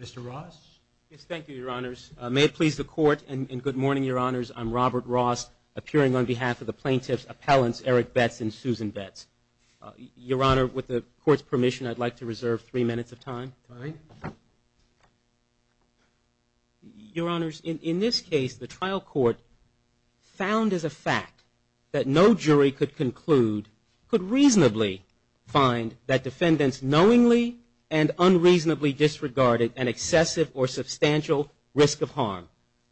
Mr. Ross? Yes, thank you, Your Honors. May it please the Court, and good morning, Your Honors. I'm Robert Ross, appearing on behalf of the plaintiffs' appellants, Eric Betts and Susan Betts. Your Honor, with the Court's permission, I'd like to reserve three minutes of time. Fine. Your Honors, in this case, the trial court found as a fact that no jury could conclude, could reasonably find that defendants knowingly and unreasonably disregarded an excessive or substantial risk of harm,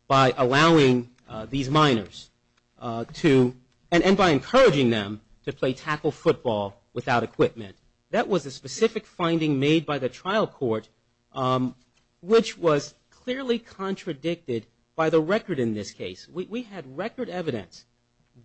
by allowing these minors to, and by encouraging them to play tackle football without equipment. That was a specific finding made by the trial court, which was clearly contradicted by the record in this case. We had record evidence,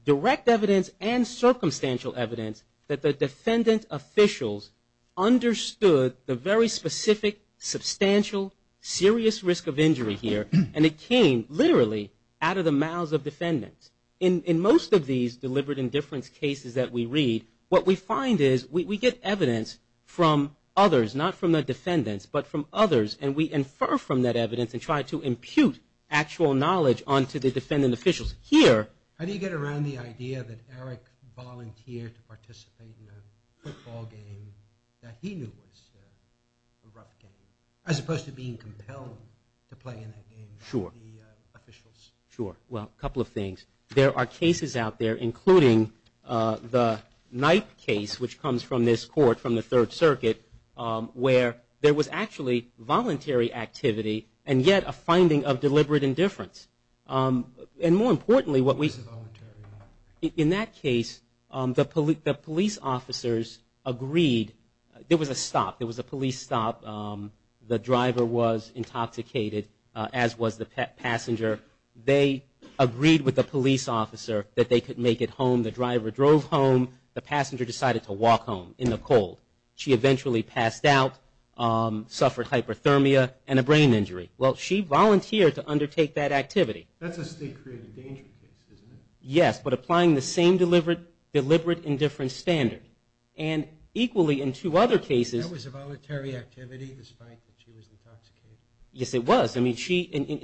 direct evidence, and circumstantial evidence that the defendant officials understood the very specific, substantial, serious risk of injury here, and it came, literally, out of the mouths of defendants. In most of these deliberate indifference cases that we read, what we find is we get evidence from others, not from the defendants, but from others, and we infer from that evidence and try to impute actual knowledge onto the defendants themselves. How do you get around the idea that Eric volunteered to participate in a football game that he knew was a rough game, as opposed to being compelled to play in that game by the officials? Sure. Well, a couple of things. There are cases out there, including the Knight case, which comes from this Court, from the Third Circuit, where there was actually voluntary activity, and yet a finding of deliberate indifference. And more importantly, in that case, the police officers agreed. There was a stop. There was a police stop. The driver was intoxicated, as was the passenger. They agreed with the police officer that they could make it home. The driver drove home. The passenger decided to walk home in the cold. She eventually passed out, suffered hyperthermia, and a brain injury. Well, she volunteered to undertake that activity. Yes, but applying the same deliberate indifference standard. That was a voluntary activity, despite that she was intoxicated? Yes, it was. And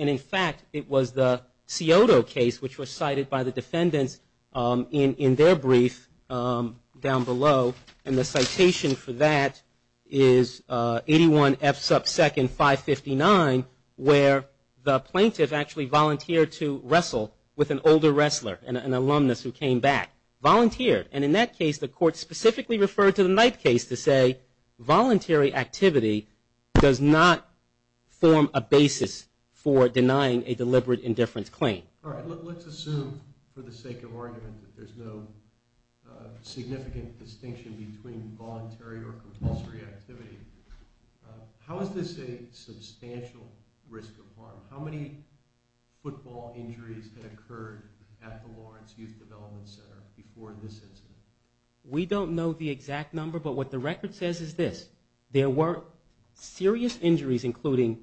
in fact, it was the Scioto case, which was cited by the defendants in their brief down below. And the citation for that is 81 F sub 2nd 559. Where the plaintiff actually volunteered to wrestle with an older wrestler, an alumnus who came back. Volunteered. And in that case, the Court specifically referred to the Knight case to say, voluntary activity does not form a basis for denying a deliberate indifference claim. All right. Let's assume, for the sake of argument, that there's no significant distinction between voluntary or compulsory activity. How is this a substantial risk of harm? How many football injuries had occurred at the Lawrence Youth Development Center before this incident? We don't know the exact number, but what the record says is this. There were serious injuries, including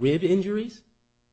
rib injuries,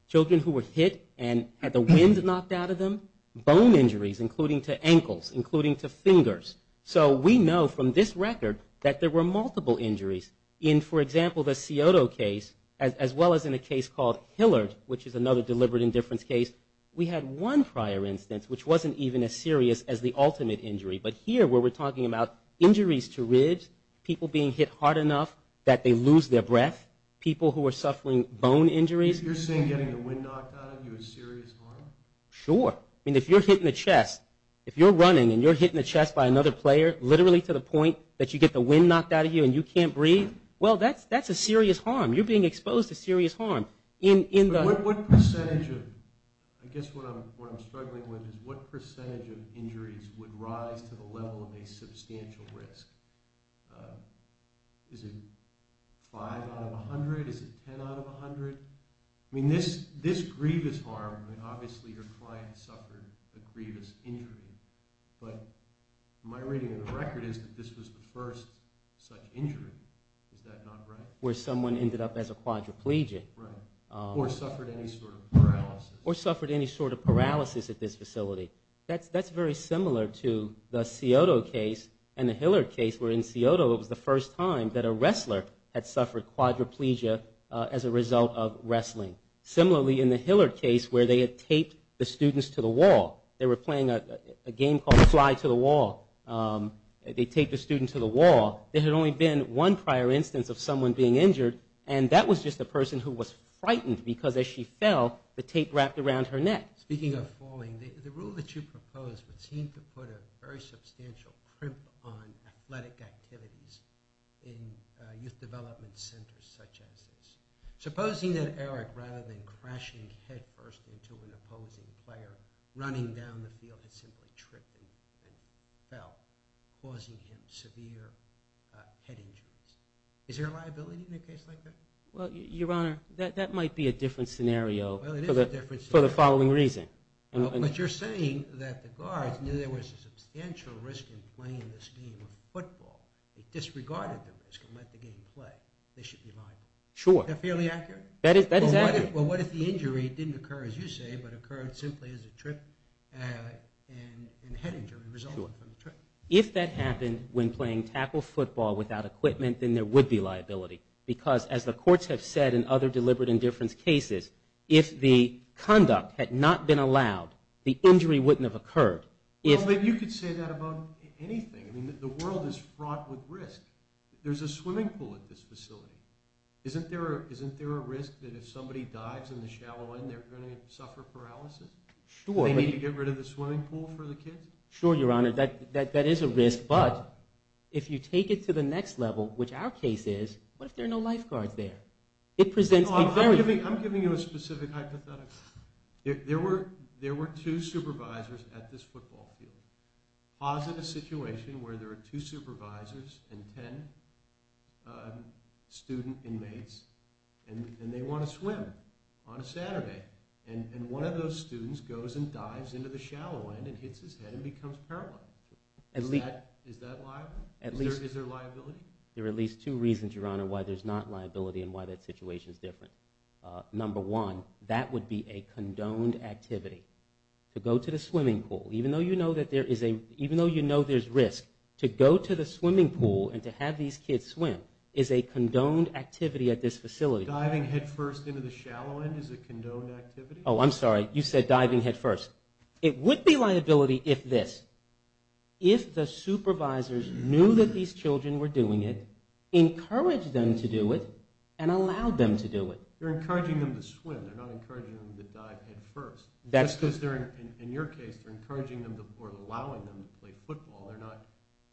children who were hit and had the wind knocked out of them, bone injuries, including to ankles, including to fingers. So we know from this record that there were multiple injuries. In, for example, the Scioto case, as well as in a case called Hillard, which is another deliberate indifference case, we had one prior instance which wasn't even as serious as the ultimate injury. But here, where we're talking about injuries to ribs, people being hit hard enough that they lose their breath, people who are suffering bone injuries. You're saying getting the wind knocked out of you is serious harm? Sure. I mean, if you're hit in the chest, if you're running and you're hit in the chest by another player, literally to the point that you get the wind knocked out of you and you can't breathe, well, that's a serious harm. You're being exposed to serious harm. I guess what I'm struggling with is what percentage of injuries would rise to the level of a substantial risk? Is it 5 out of 100? Is it 10 out of 100? I mean, this grievous harm, I mean, obviously your client suffered a grievous injury, but my reading of the record is that this was the first such injury. Is that not right? Where someone ended up as a quadriplegic. Or suffered any sort of paralysis. That's very similar to the Cioto case and the Hillard case, where in Cioto it was the first time that a wrestler had suffered quadriplegia as a result of wrestling. Similarly, in the Hillard case, where they had taped the students to the wall. They were playing a game called fly to the wall. They taped the student to the wall. There had only been one prior instance of someone being injured, and that was just a person who was frightened, because as she fell, the tape wrapped around her neck. Speaking of falling, the rule that you proposed would seem to put a very substantial crimp on athletic activities in youth development centers such as this. Supposing that Eric, rather than crashing head first into an opposing player, running down the field had simply tripped and fell, causing him severe head injuries. Is there a liability in a case like that? Your Honor, that might be a different scenario for the following reason. But you're saying that the guards knew there was a substantial risk in playing this game of football. They disregarded the risk and let the game play. They should be liable. Is that fairly accurate? If that happened when playing tackle football without equipment, then there would be liability. Because as the courts have said in other deliberate indifference cases, if the conduct had not been allowed, the injury wouldn't have occurred. You could say that about anything. The world is fraught with risk. There's a swimming pool at this facility. Isn't there a risk that if somebody dives in the shallow end, they're going to suffer paralysis? They need to get rid of the swimming pool for the kids? Sure, Your Honor, that is a risk. But if you take it to the next level, which our case is, what if there are no lifeguards there? I'm giving you a specific hypothetical. There were two supervisors at this football field. Pause in a situation where there are two supervisors and ten student inmates, and they want to swim on a Saturday. And one of those students goes and dives into the shallow end and hits his head and becomes paralyzed. Is that liable? Is there liability? There are at least two reasons, Your Honor, why there's not liability and why that situation is different. Number one, that would be a condoned activity. To go to the swimming pool, even though you know there's risk, to go to the swimming pool and to have these kids swim is a condoned activity at this facility. Diving headfirst into the shallow end is a condoned activity? Oh, I'm sorry. You said diving headfirst. It would be liability if this. If the supervisors knew that these children were doing it, encouraged them to do it, and allowed them to do it. They're encouraging them to swim. They're not encouraging them to dive headfirst. In your case, they're encouraging them or allowing them to play football. They're not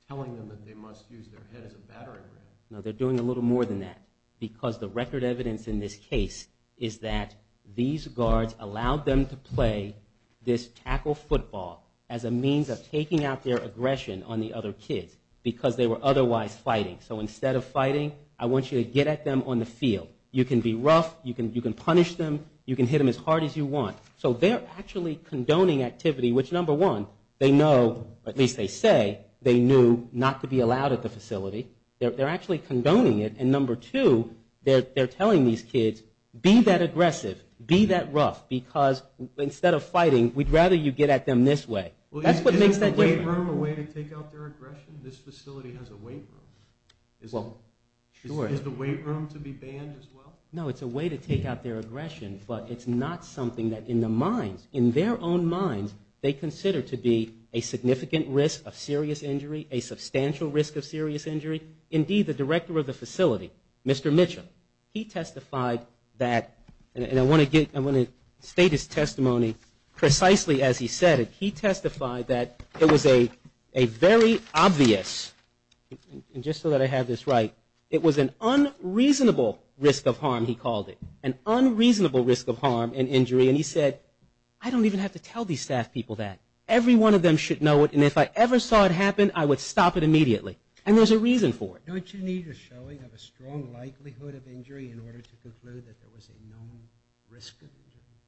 telling them that they must use their head as a battering ram. No, they're doing a little more than that because the record evidence in this case is that these guards allowed them to play this tackle football as a means of taking out their aggression on the other kids because they were otherwise fighting. So instead of fighting, I want you to get at them on the field. You can be rough, you can punish them, you can hit them as hard as you want. So they're actually condoning activity, which number one, they know, at least they say, they knew not to be allowed at the facility. They're actually condoning it. And number two, they're telling these kids, be that aggressive, be that rough, because instead of fighting, we'd rather you get at them this way. Isn't the weight room a way to take out their aggression? This facility has a weight room. Is the weight room to be banned as well? No, it's a way to take out their aggression, but it's not something that in their own minds they consider to be a significant risk of serious injury, a substantial risk of serious injury. Indeed, the director of the facility, Mr. Mitchell, he testified that, and I want to state his testimony precisely as he said it. He testified that it was a very obvious, and just so that I have this right, it was an unreasonable risk of harm, he called it. An unreasonable risk of harm and injury, and he said, I don't even have to tell these staff people that. Every one of them should know it, and if I ever saw it happen, I would stop it immediately. And there's a reason for it.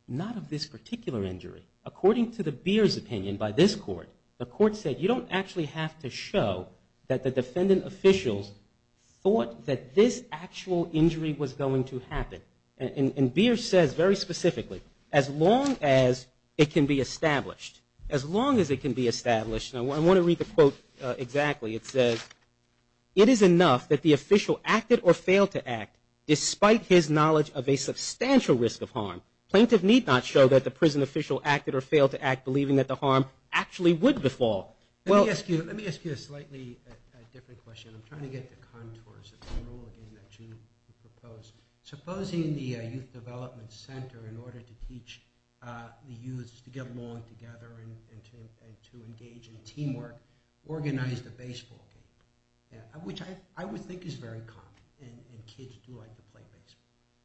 Not of this particular injury. According to the Beer's opinion by this court, the court said you don't actually have to show that the defendant officials thought that this actual injury was going to happen. And Beer says very specifically, as long as it can be established, as long as it can be established, and I want to read the quote exactly. It says, it is enough that the official acted or failed to act, despite his knowledge of a substantial risk of harm. Plaintiff need not show that the prison official acted or failed to act, believing that the harm actually would befall. Let me ask you a slightly different question. I'm trying to get to contours. Supposing the youth development center, in order to teach the youth to get along together and to engage in teamwork, organized a baseball game, which I would think is very common, and kids do like to play baseball.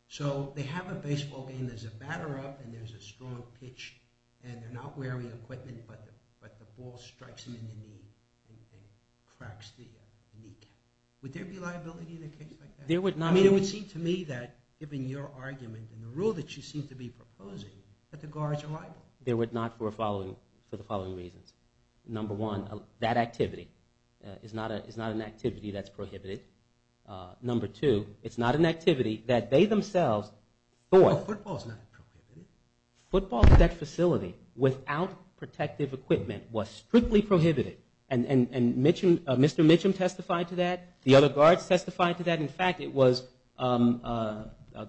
So they have a baseball game, there's a batter up, and there's a strong pitch, and they're not wearing equipment, but the ball strikes them in the knee and cracks the kneecap. Would there be liability in a case like that? I mean, it would seem to me that, given your argument and the rule that you seem to be proposing, that the guards are liable. They would not for the following reasons. Number one, that activity is not an activity that's prohibited. Number two, it's not an activity that they themselves thought... And Mr. Mitchum testified to that. The other guards testified to that. In fact, it was a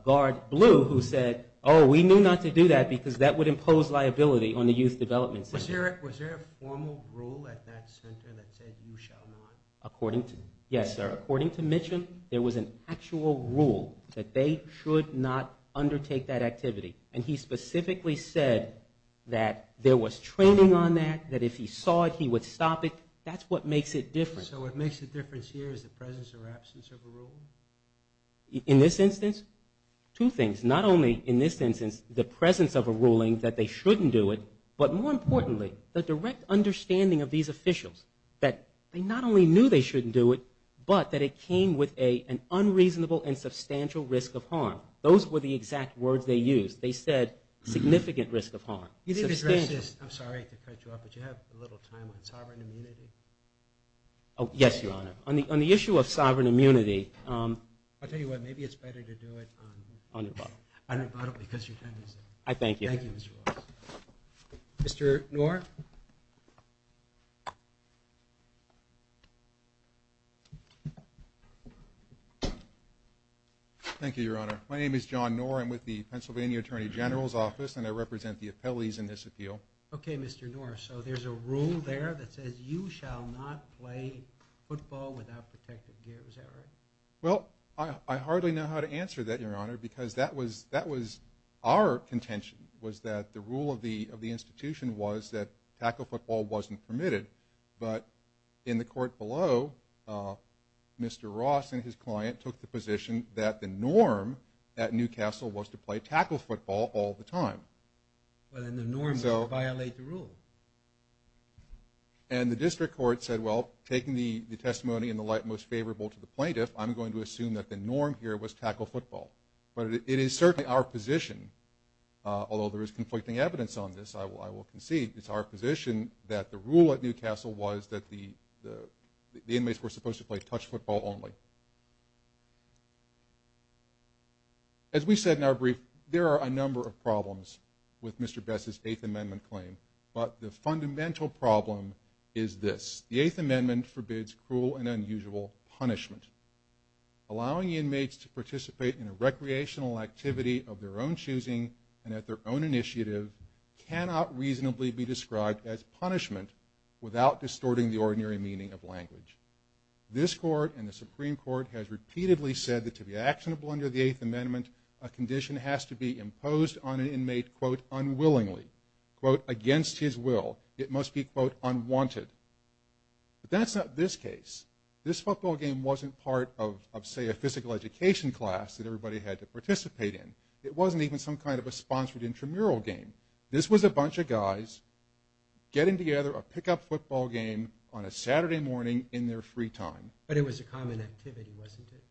guard, Blue, who said, oh, we knew not to do that, because that would impose liability on the youth development center. Was there a formal rule at that center that said you shall not? Yes, sir. According to Mitchum, there was an actual rule that they should not undertake that activity. And he specifically said that there was training on that, that if he saw it, he would stop it. That's what makes it different. So what makes it different here is the presence or absence of a rule? In this instance, two things. Not only in this instance the presence of a ruling that they shouldn't do it, but more importantly, the direct understanding of these officials that they not only knew they shouldn't do it, but that it came with an unreasonable and substantial risk of harm. Those were the exact words they used. They said significant risk of harm. You didn't address this, I'm sorry to cut you off, but do you have a little time on sovereign immunity? Yes, Your Honor. On the issue of sovereign immunity... I'll tell you what, maybe it's better to do it on rebuttal, because your time is up. I thank you. Thank you, Mr. Ross. Mr. Knorr? Thank you, Your Honor. My name is John Knorr. I'm with the Pennsylvania Attorney General's Office, and I represent the appellees in this appeal. Okay, Mr. Knorr. So there's a rule there that says you shall not play football without protective gear. Is that right? Well, I hardly know how to answer that, Your Honor, because that was our contention, was that the rule of the institution was that tackle football wasn't permitted. But in the court below, Mr. Ross and his client took the position that the norm at Newcastle was to play tackle football all the time. And the district court said, well, taking the testimony in the light most favorable to the plaintiff, I'm going to assume that the norm here was tackle football. But it is certainly our position, although there is conflicting evidence on this, I will concede, it's our position that the rule at Newcastle was that the inmates were supposed to play touch football only. As we said in our brief, there are a number of problems with Mr. Bess's Eighth Amendment claim, but the fundamental problem is this. The Eighth Amendment forbids cruel and unusual punishment. Allowing inmates to participate in a recreational activity of their own choosing and at their own initiative cannot reasonably be described as punishment without distorting the ordinary meaning of language. This court and the Supreme Court has repeatedly said that to be actionable under the Eighth Amendment, a condition has to be imposed on an inmate, quote, unwillingly, quote, against his will. It must be, quote, unwanted. But that's not this case. This football game wasn't part of, say, a physical education class that everybody had to participate in. It wasn't even some kind of a sponsored intramural game. This was a bunch of guys getting together a pickup football game on a Saturday morning in their free time. But it was a common activity, wasn't it?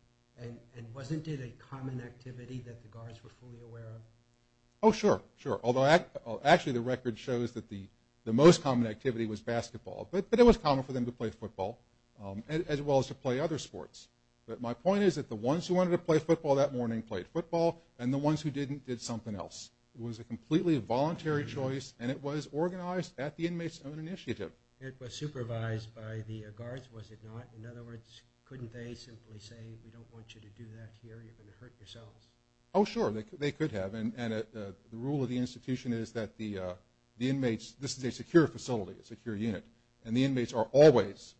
And wasn't it a common activity that the guards were fully aware of? Oh, sure. Sure. Although actually the record shows that the most common activity was basketball. But it was common for them to play football as well as to play other sports. But my point is that the ones who wanted to play football that morning played football and the ones who didn't did something else. It was a completely voluntary choice and it was organized at the inmate's own initiative. Oh, sure. They could have. And the rule of the institution is that the inmates, this is a secure facility, a secure unit, and the inmates are always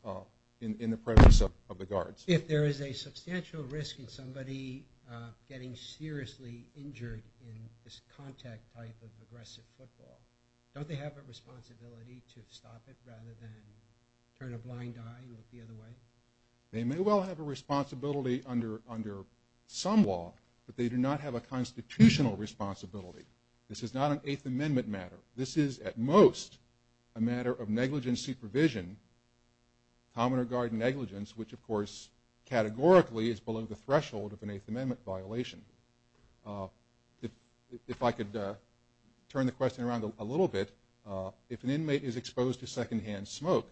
in the presence of the guards. If there is a substantial risk in somebody getting seriously injured in this contact type of aggressive football, don't they have a responsibility to stop it rather than turn a blind eye the other way? They may well have a responsibility under some law, but they do not have a constitutional responsibility. This is not an Eighth Amendment matter. This is at most a matter of negligent supervision, commoner guard negligence, which of course categorically is below the threshold of an Eighth Amendment violation. If I could turn the question around a little bit. If an inmate is exposed to secondhand smoke,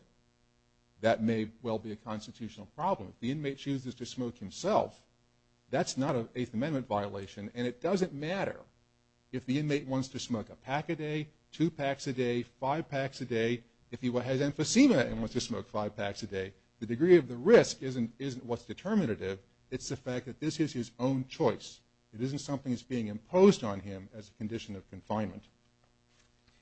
that may well be a constitutional problem. If the inmate chooses to smoke himself, that's not an Eighth Amendment violation and it doesn't matter if the inmate wants to smoke a pack a day, two packs a day, five packs a day. If he has emphysema and wants to smoke five packs a day, the degree of the risk isn't what's determinative. It's the fact that this is his own choice. It isn't something that's being imposed on him as a condition of confinement.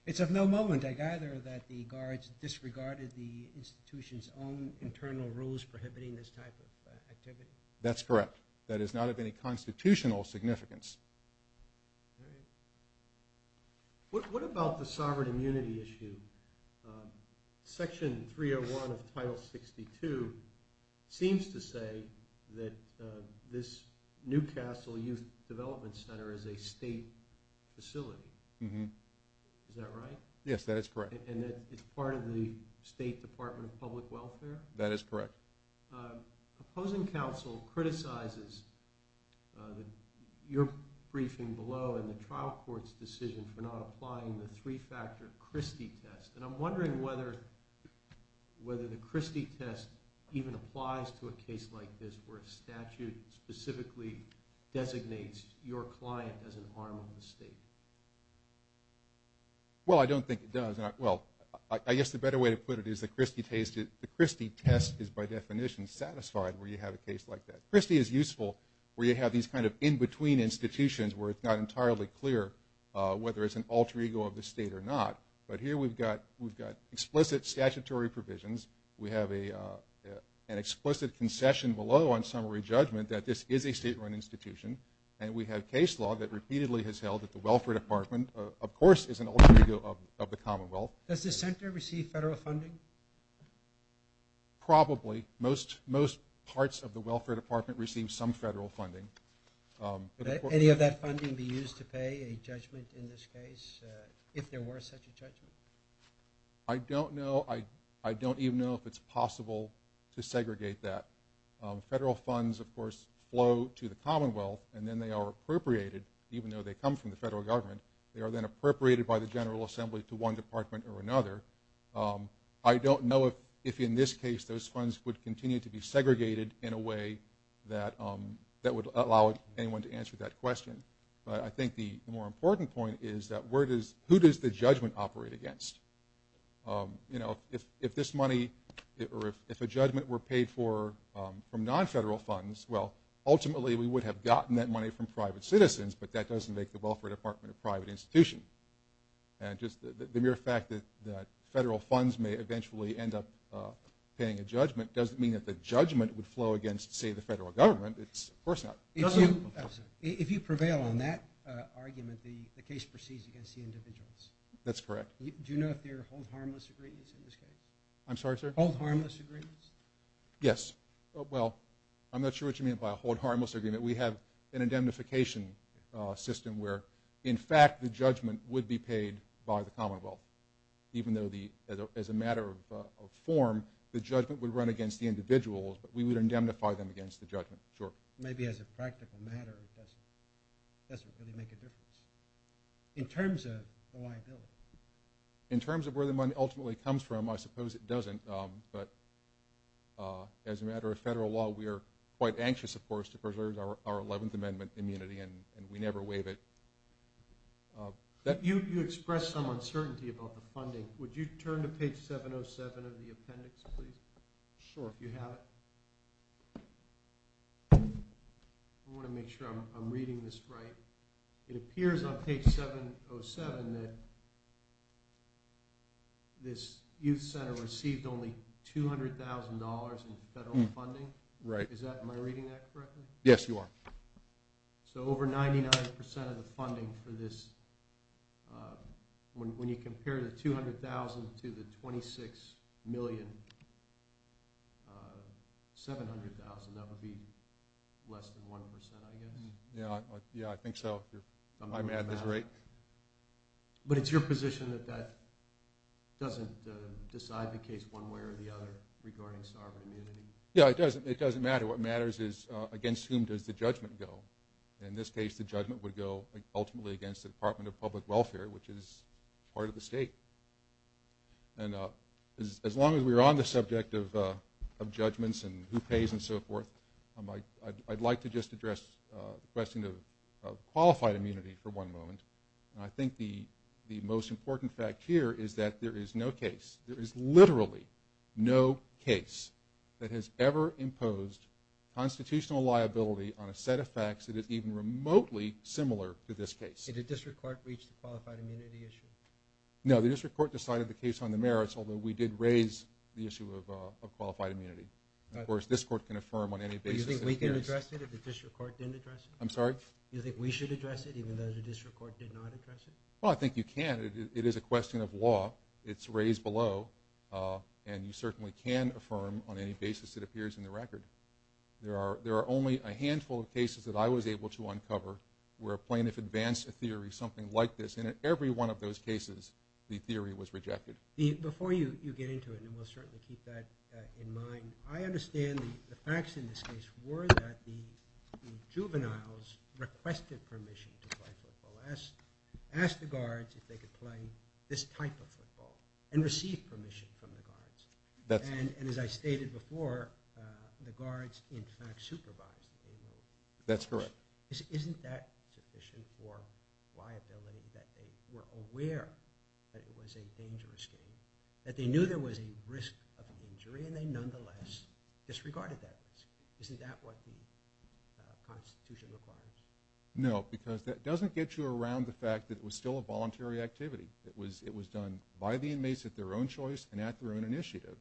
It's of no moment, I gather, that the guards disregarded the institution's own internal rules prohibiting this type of activity? That's correct. That is not of any constitutional significance. What about the sovereign immunity issue? Section 301 of Title 62 seems to say that this Newcastle Youth Development Center is a state facility. Is that right? Yes, that is correct. And it's part of the State Department of Public Welfare? That is correct. Opposing counsel criticizes your briefing below in the trial court's decision for not applying the three-factor Christie test. And I'm wondering whether the Christie test even applies to a case like this where a statute specifically designates your client as an arm of the state. Well, I don't think it does. I guess the better way to put it is the Christie test is by definition satisfied where you have a case like that. Christie is useful where you have these kind of in-between institutions where it's not entirely clear whether it's an alter ego of the state or not. But here we've got explicit statutory provisions. We have an explicit concession below on summary judgment that this is a state-run institution. And we have case law that repeatedly has held that the Welfare Department, of course, is an alter ego of the Commonwealth. Does the center receive federal funding? Probably. Most parts of the Welfare Department receive some federal funding. Would any of that funding be used to pay a judgment in this case, if there were such a judgment? I don't know. I don't even know if it's possible to segregate that. Federal funds, of course, flow to the Commonwealth, and then they are appropriated, even though they come from the federal government. They are then appropriated by the General Assembly to one department or another. I don't know if in this case those funds would continue to be segregated in a way that would allow anyone to answer that question. But I think the more important point is that who does the judgment operate against? If this money, or if a judgment were paid for from non-federal funds, well, ultimately we would have gotten that money from private citizens, but that doesn't make the Welfare Department a private institution. The mere fact that federal funds may eventually end up paying a judgment doesn't mean that the judgment would flow against, say, the federal government. If you prevail on that argument, the case proceeds against the individuals. That's correct. Do you know if there are hold-harmless agreements in this case? I'm sorry, sir? Hold-harmless agreements? Yes. Well, I'm not sure what you mean by a hold-harmless agreement. We have an indemnification system where, in fact, the judgment would be paid by the Commonwealth, even though as a matter of form the judgment would run against the individuals, but we would indemnify them against the judgment. Maybe as a practical matter it doesn't really make a difference in terms of the liability. In terms of where the money ultimately comes from, I suppose it doesn't, but as a matter of federal law we are quite anxious, of course, to preserve our Eleventh Amendment immunity, and we never waive it. You expressed some uncertainty about the funding. Would you turn to page 707 of the appendix, please? Sure. Do you have it? I want to make sure I'm reading this right. It appears on page 707 that this youth center received only $200,000 in federal funding. Right. Am I reading that correctly? Yes, you are. So over 99% of the funding for this, when you compare the $200,000 to the $26,700,000, that would be less than 1%, I guess. Yes, I think so. I'm at this rate. But it's your position that that doesn't decide the case one way or the other regarding sovereign immunity? Yes, it doesn't matter. What matters is against whom does the judgment go. In this case, the judgment would go ultimately against the Department of Public Welfare, which is part of the state. And as long as we're on the subject of judgments and who pays and so forth, I'd like to just address the question of qualified immunity for one moment. I think the most important fact here is that there is no case, that has ever imposed constitutional liability on a set of facts that is even remotely similar to this case. Did the district court reach the qualified immunity issue? No, the district court decided the case on the merits, although we did raise the issue of qualified immunity. Of course, this court can affirm on any basis. Do you think we can address it if the district court didn't address it? I'm sorry? Do you think we should address it even though the district court did not address it? Well, I think you can. It is a question of law. It's raised below. And you certainly can affirm on any basis it appears in the record. There are only a handful of cases that I was able to uncover where a plaintiff advanced a theory, something like this, and in every one of those cases, the theory was rejected. Before you get into it, and we'll certainly keep that in mind, I understand the facts in this case were that the juveniles requested permission to play football, asked the guards if they could play this type of football, and received permission from the guards. And as I stated before, the guards in fact supervised the game. That's correct. Isn't that sufficient for liability that they were aware that it was a dangerous game, that they knew there was a risk of injury, and they nonetheless disregarded that risk? Isn't that what the Constitution requires? No, because that doesn't get you around the fact that it was still a voluntary activity. It was done by the inmates at their own choice and at their own initiative.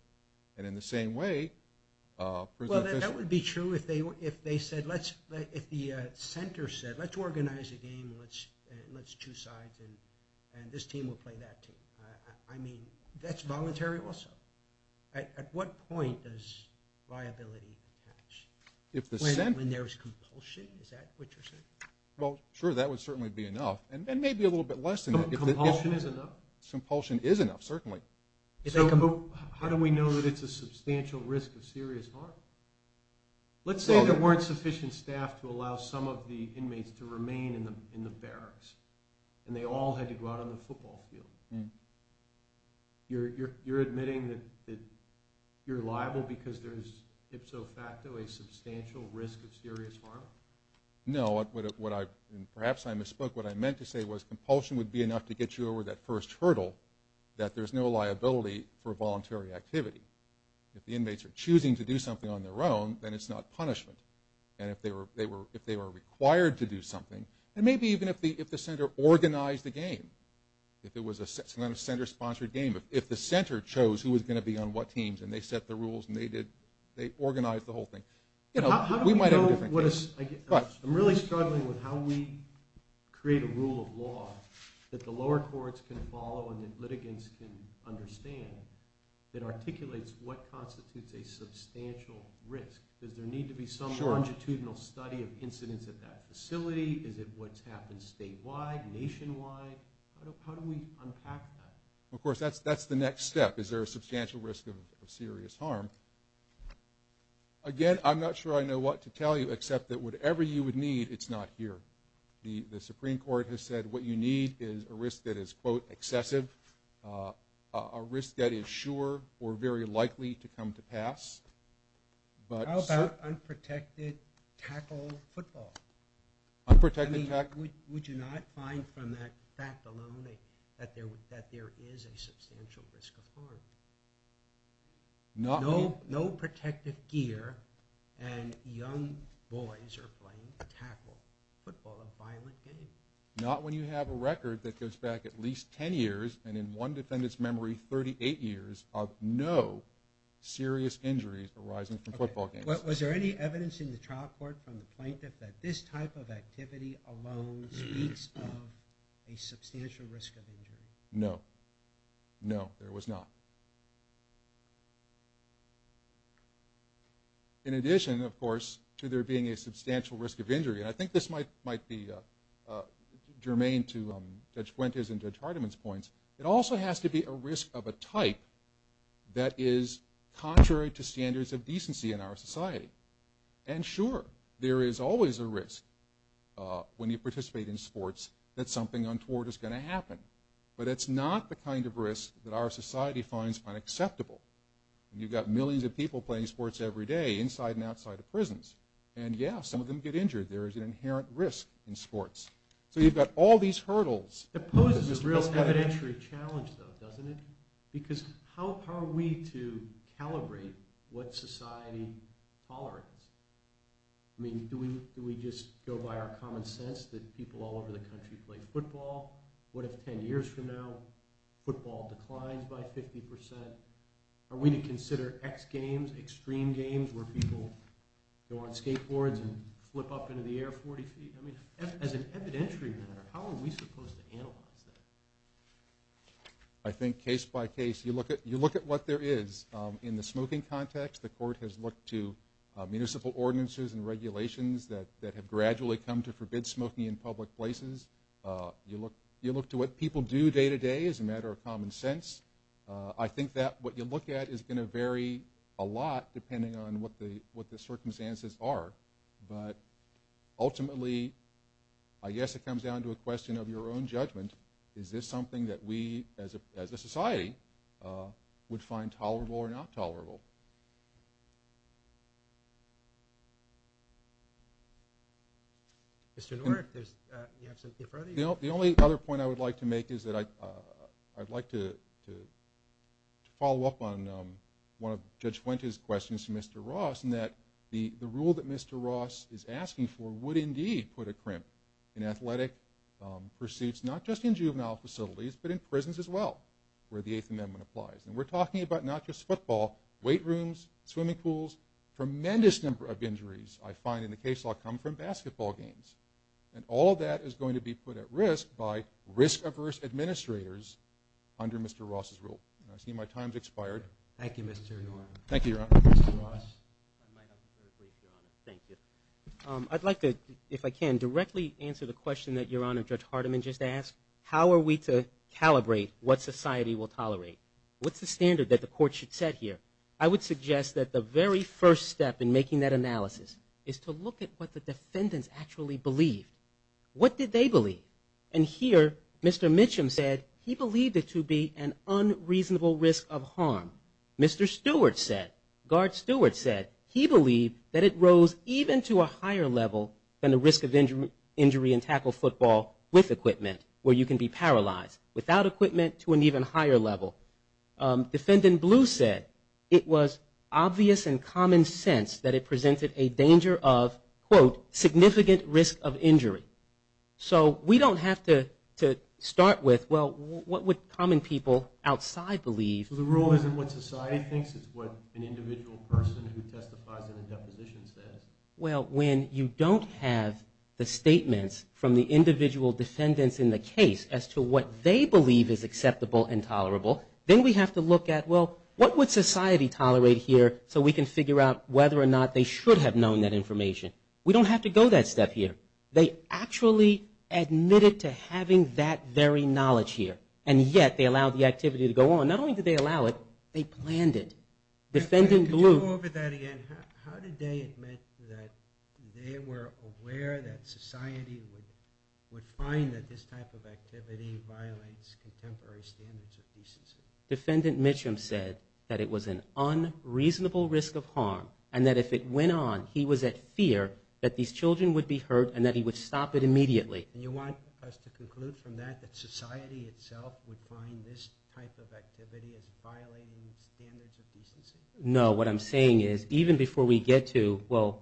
And in the same way, prison officials… Well, that would be true if they said, if the center said, let's organize a game, let's choose sides, and this team will play that team. I mean, that's voluntary also. At what point does liability attach? When there's compulsion? Is that what you're saying? Well, sure, that would certainly be enough, and maybe a little bit less than that. Compulsion is enough. Compulsion is enough, certainly. How do we know that it's a substantial risk of serious harm? Let's say there weren't sufficient staff to allow some of the inmates to remain in the barracks, and they all had to go out on the football field. You're admitting that you're liable because there's ipso facto a substantial risk of serious harm? No, and perhaps I misspoke. What I meant to say was compulsion would be enough to get you over that first hurdle, that there's no liability for voluntary activity. If the inmates are choosing to do something on their own, then it's not punishment. And if they were required to do something, and maybe even if the center organized the game, if it was a center-sponsored game, if the center chose who was going to be on what teams, and they set the rules and they organized the whole thing, we might have a different case. I'm really struggling with how we create a rule of law that the lower courts can follow and that litigants can understand that articulates what constitutes a substantial risk. Does there need to be some longitudinal study of incidents at that facility? Is it what's happened statewide, nationwide? How do we unpack that? Of course, that's the next step. Is there a substantial risk of serious harm? Again, I'm not sure I know what to tell you, except that whatever you would need, it's not here. The Supreme Court has said what you need is a risk that is, quote, excessive, a risk that is sure or very likely to come to pass. How about unprotected tackle football? Unprotected tackle? I mean, would you not find from that fact alone that there is a substantial risk of harm? No protective gear and young boys are blamed to tackle football, a violent game. Not when you have a record that goes back at least 10 years and in one defendant's memory 38 years of no serious injuries arising from football games. Okay. Was there any evidence in the trial court from the plaintiff that this type of activity alone speaks of a substantial risk of injury? No. No, there was not. In addition, of course, to there being a substantial risk of injury, and I think this might be germane to Judge Gwente's and Judge Hardiman's points, it also has to be a risk of a type that is contrary to standards of decency in our society. And sure, there is always a risk when you participate in sports that something untoward is going to happen. But it's not the kind of risk that our society finds unacceptable. You've got millions of people playing sports every day inside and outside of prisons. And, yeah, some of them get injured. There is an inherent risk in sports. So you've got all these hurdles. It poses a real evidentiary challenge, though, doesn't it? Because how are we to calibrate what society tolerates? I mean, do we just go by our common sense that people all over the country play football? What if 10 years from now football declines by 50 percent? Are we to consider X games, extreme games where people go on skateboards and flip up into the air 40 feet? I mean, as an evidentiary matter, how are we supposed to analyze that? I think case by case you look at what there is. In the smoking context, the court has looked to municipal ordinances and regulations that have gradually come to forbid smoking in public places. You look to what people do day to day as a matter of common sense. I think that what you look at is going to vary a lot depending on what the circumstances are. But ultimately, I guess it comes down to a question of your own judgment. Is this something that we as a society would find tolerable or not tolerable? Mr. Norton, do you have something further? The only other point I would like to make is that I'd like to follow up on one of Judge Fuente's questions to Mr. Ross in that the rule that Mr. Ross is asking for would indeed put a crimp in athletic pursuits, not just in juvenile facilities, but in prisons as well where the Eighth Amendment applies. And we're talking about not just football, weight rooms, swimming pools, a tremendous number of injuries I find in the case law come from basketball games. And all of that is going to be put at risk by risk-averse administrators under Mr. Ross's rule. I see my time has expired. Thank you, Mr. Norton. Thank you, Your Honor. Mr. Ross. Thank you. I'd like to, if I can, directly answer the question that Your Honor, Judge Hardiman just asked. How are we to calibrate what society will tolerate? What's the standard that the court should set here? I would suggest that the very first step in making that analysis is to look at what the defendants actually believe. What did they believe? And here Mr. Mitchum said he believed it to be an unreasonable risk of harm. Mr. Stewart said, Guard Stewart said, he believed that it rose even to a higher level than the risk of injury in tackle football with equipment where you can be paralyzed. Without equipment, to an even higher level. Defendant Blue said it was obvious and common sense that it presented a danger of, quote, significant risk of injury. So we don't have to start with, well, what would common people outside believe? The rule isn't what society thinks. It's what an individual person who testifies in a deposition says. Well, when you don't have the statements from the individual defendants in the case as to what they believe is Then we have to look at, well, what would society tolerate here so we can figure out whether or not they should have known that information? We don't have to go that step here. They actually admitted to having that very knowledge here. And yet they allowed the activity to go on. Not only did they allow it, they planned it. Defendant Blue. Let me go over that again. How did they admit that they were aware that society would find that this type of activity violates contemporary standards of decency? Defendant Mitchum said that it was an unreasonable risk of harm and that if it went on, he was at fear that these children would be hurt and that he would stop it immediately. And you want us to conclude from that that society itself would find this type of activity as violating standards of decency? No. What I'm saying is, even before we get to, well,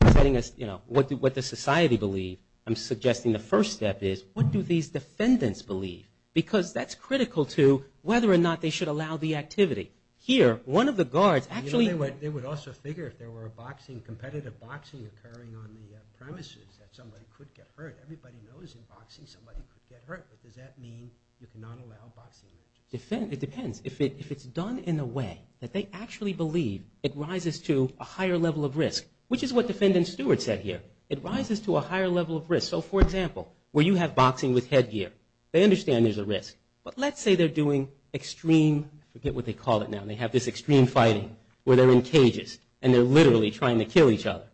what does society believe, I'm suggesting the first step is, what do these defendants believe? Because that's critical to whether or not they should allow the activity. Here, one of the guards actually- They would also figure if there were a competitive boxing occurring on the premises that somebody could get hurt. Everybody knows in boxing somebody could get hurt, but does that mean you cannot allow boxing? It depends. It depends if it's done in a way that they actually believe it rises to a higher level of risk, which is what defendant Stewart said here. It rises to a higher level of risk. So, for example, where you have boxing with headgear, they understand there's a risk. But let's say they're doing extreme, I forget what they call it now, and they have this extreme fighting where they're in cages and they're literally trying to kill each other.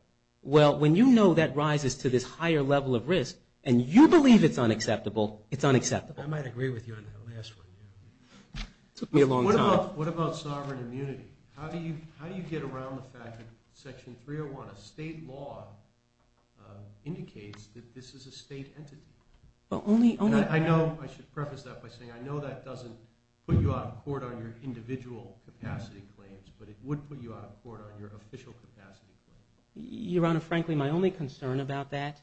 Well, when you know that rises to this higher level of risk and you believe it's unacceptable, it's unacceptable. I might agree with you on that last one. It took me a long time. What about sovereign immunity? How do you get around the fact that Section 301 of state law indicates that this is a state entity? I know I should preface that by saying I know that doesn't put you out of court on your individual capacity claims, but it would put you out of court on your official capacity claims. Your Honor, frankly, my only concern about that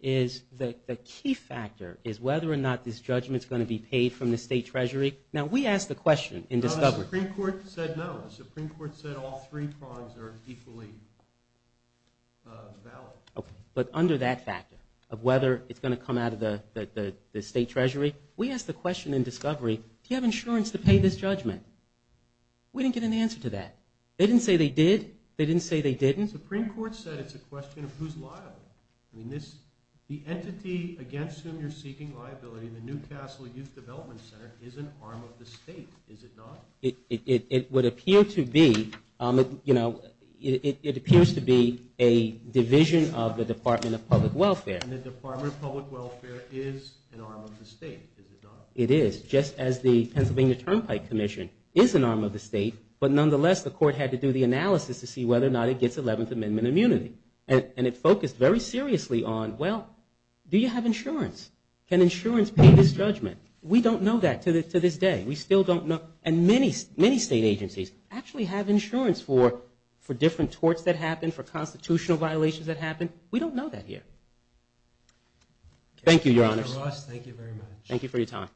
is the key factor is whether or not this judgment is going to be paid from the state treasury. Now, we asked the question in discovery. The Supreme Court said no. The Supreme Court said all three prongs are equally valid. Okay. But under that factor of whether it's going to come out of the state treasury, we asked the question in discovery, do you have insurance to pay this judgment? We didn't get an answer to that. They didn't say they did. They didn't say they didn't. The Supreme Court said it's a question of who's liable. I mean, the entity against whom you're seeking liability, the Newcastle Youth Development Center, is an arm of the state, is it not? It would appear to be. You know, it appears to be a division of the Department of Public Welfare. And the Department of Public Welfare is an arm of the state, is it not? It is, just as the Pennsylvania Turnpike Commission is an arm of the state, But nonetheless, the court had to do the analysis to see whether or not it gets 11th Amendment immunity. And it focused very seriously on, well, do you have insurance? Can insurance pay this judgment? We don't know that to this day. We still don't know. And many state agencies actually have insurance for different torts that happen, for constitutional violations that happen. We don't know that here. Thank you, Your Honors. Thank you very much. Thank you for your time.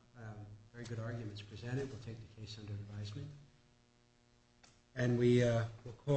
Very good arguments presented. We'll take the case under advisement. And we will call.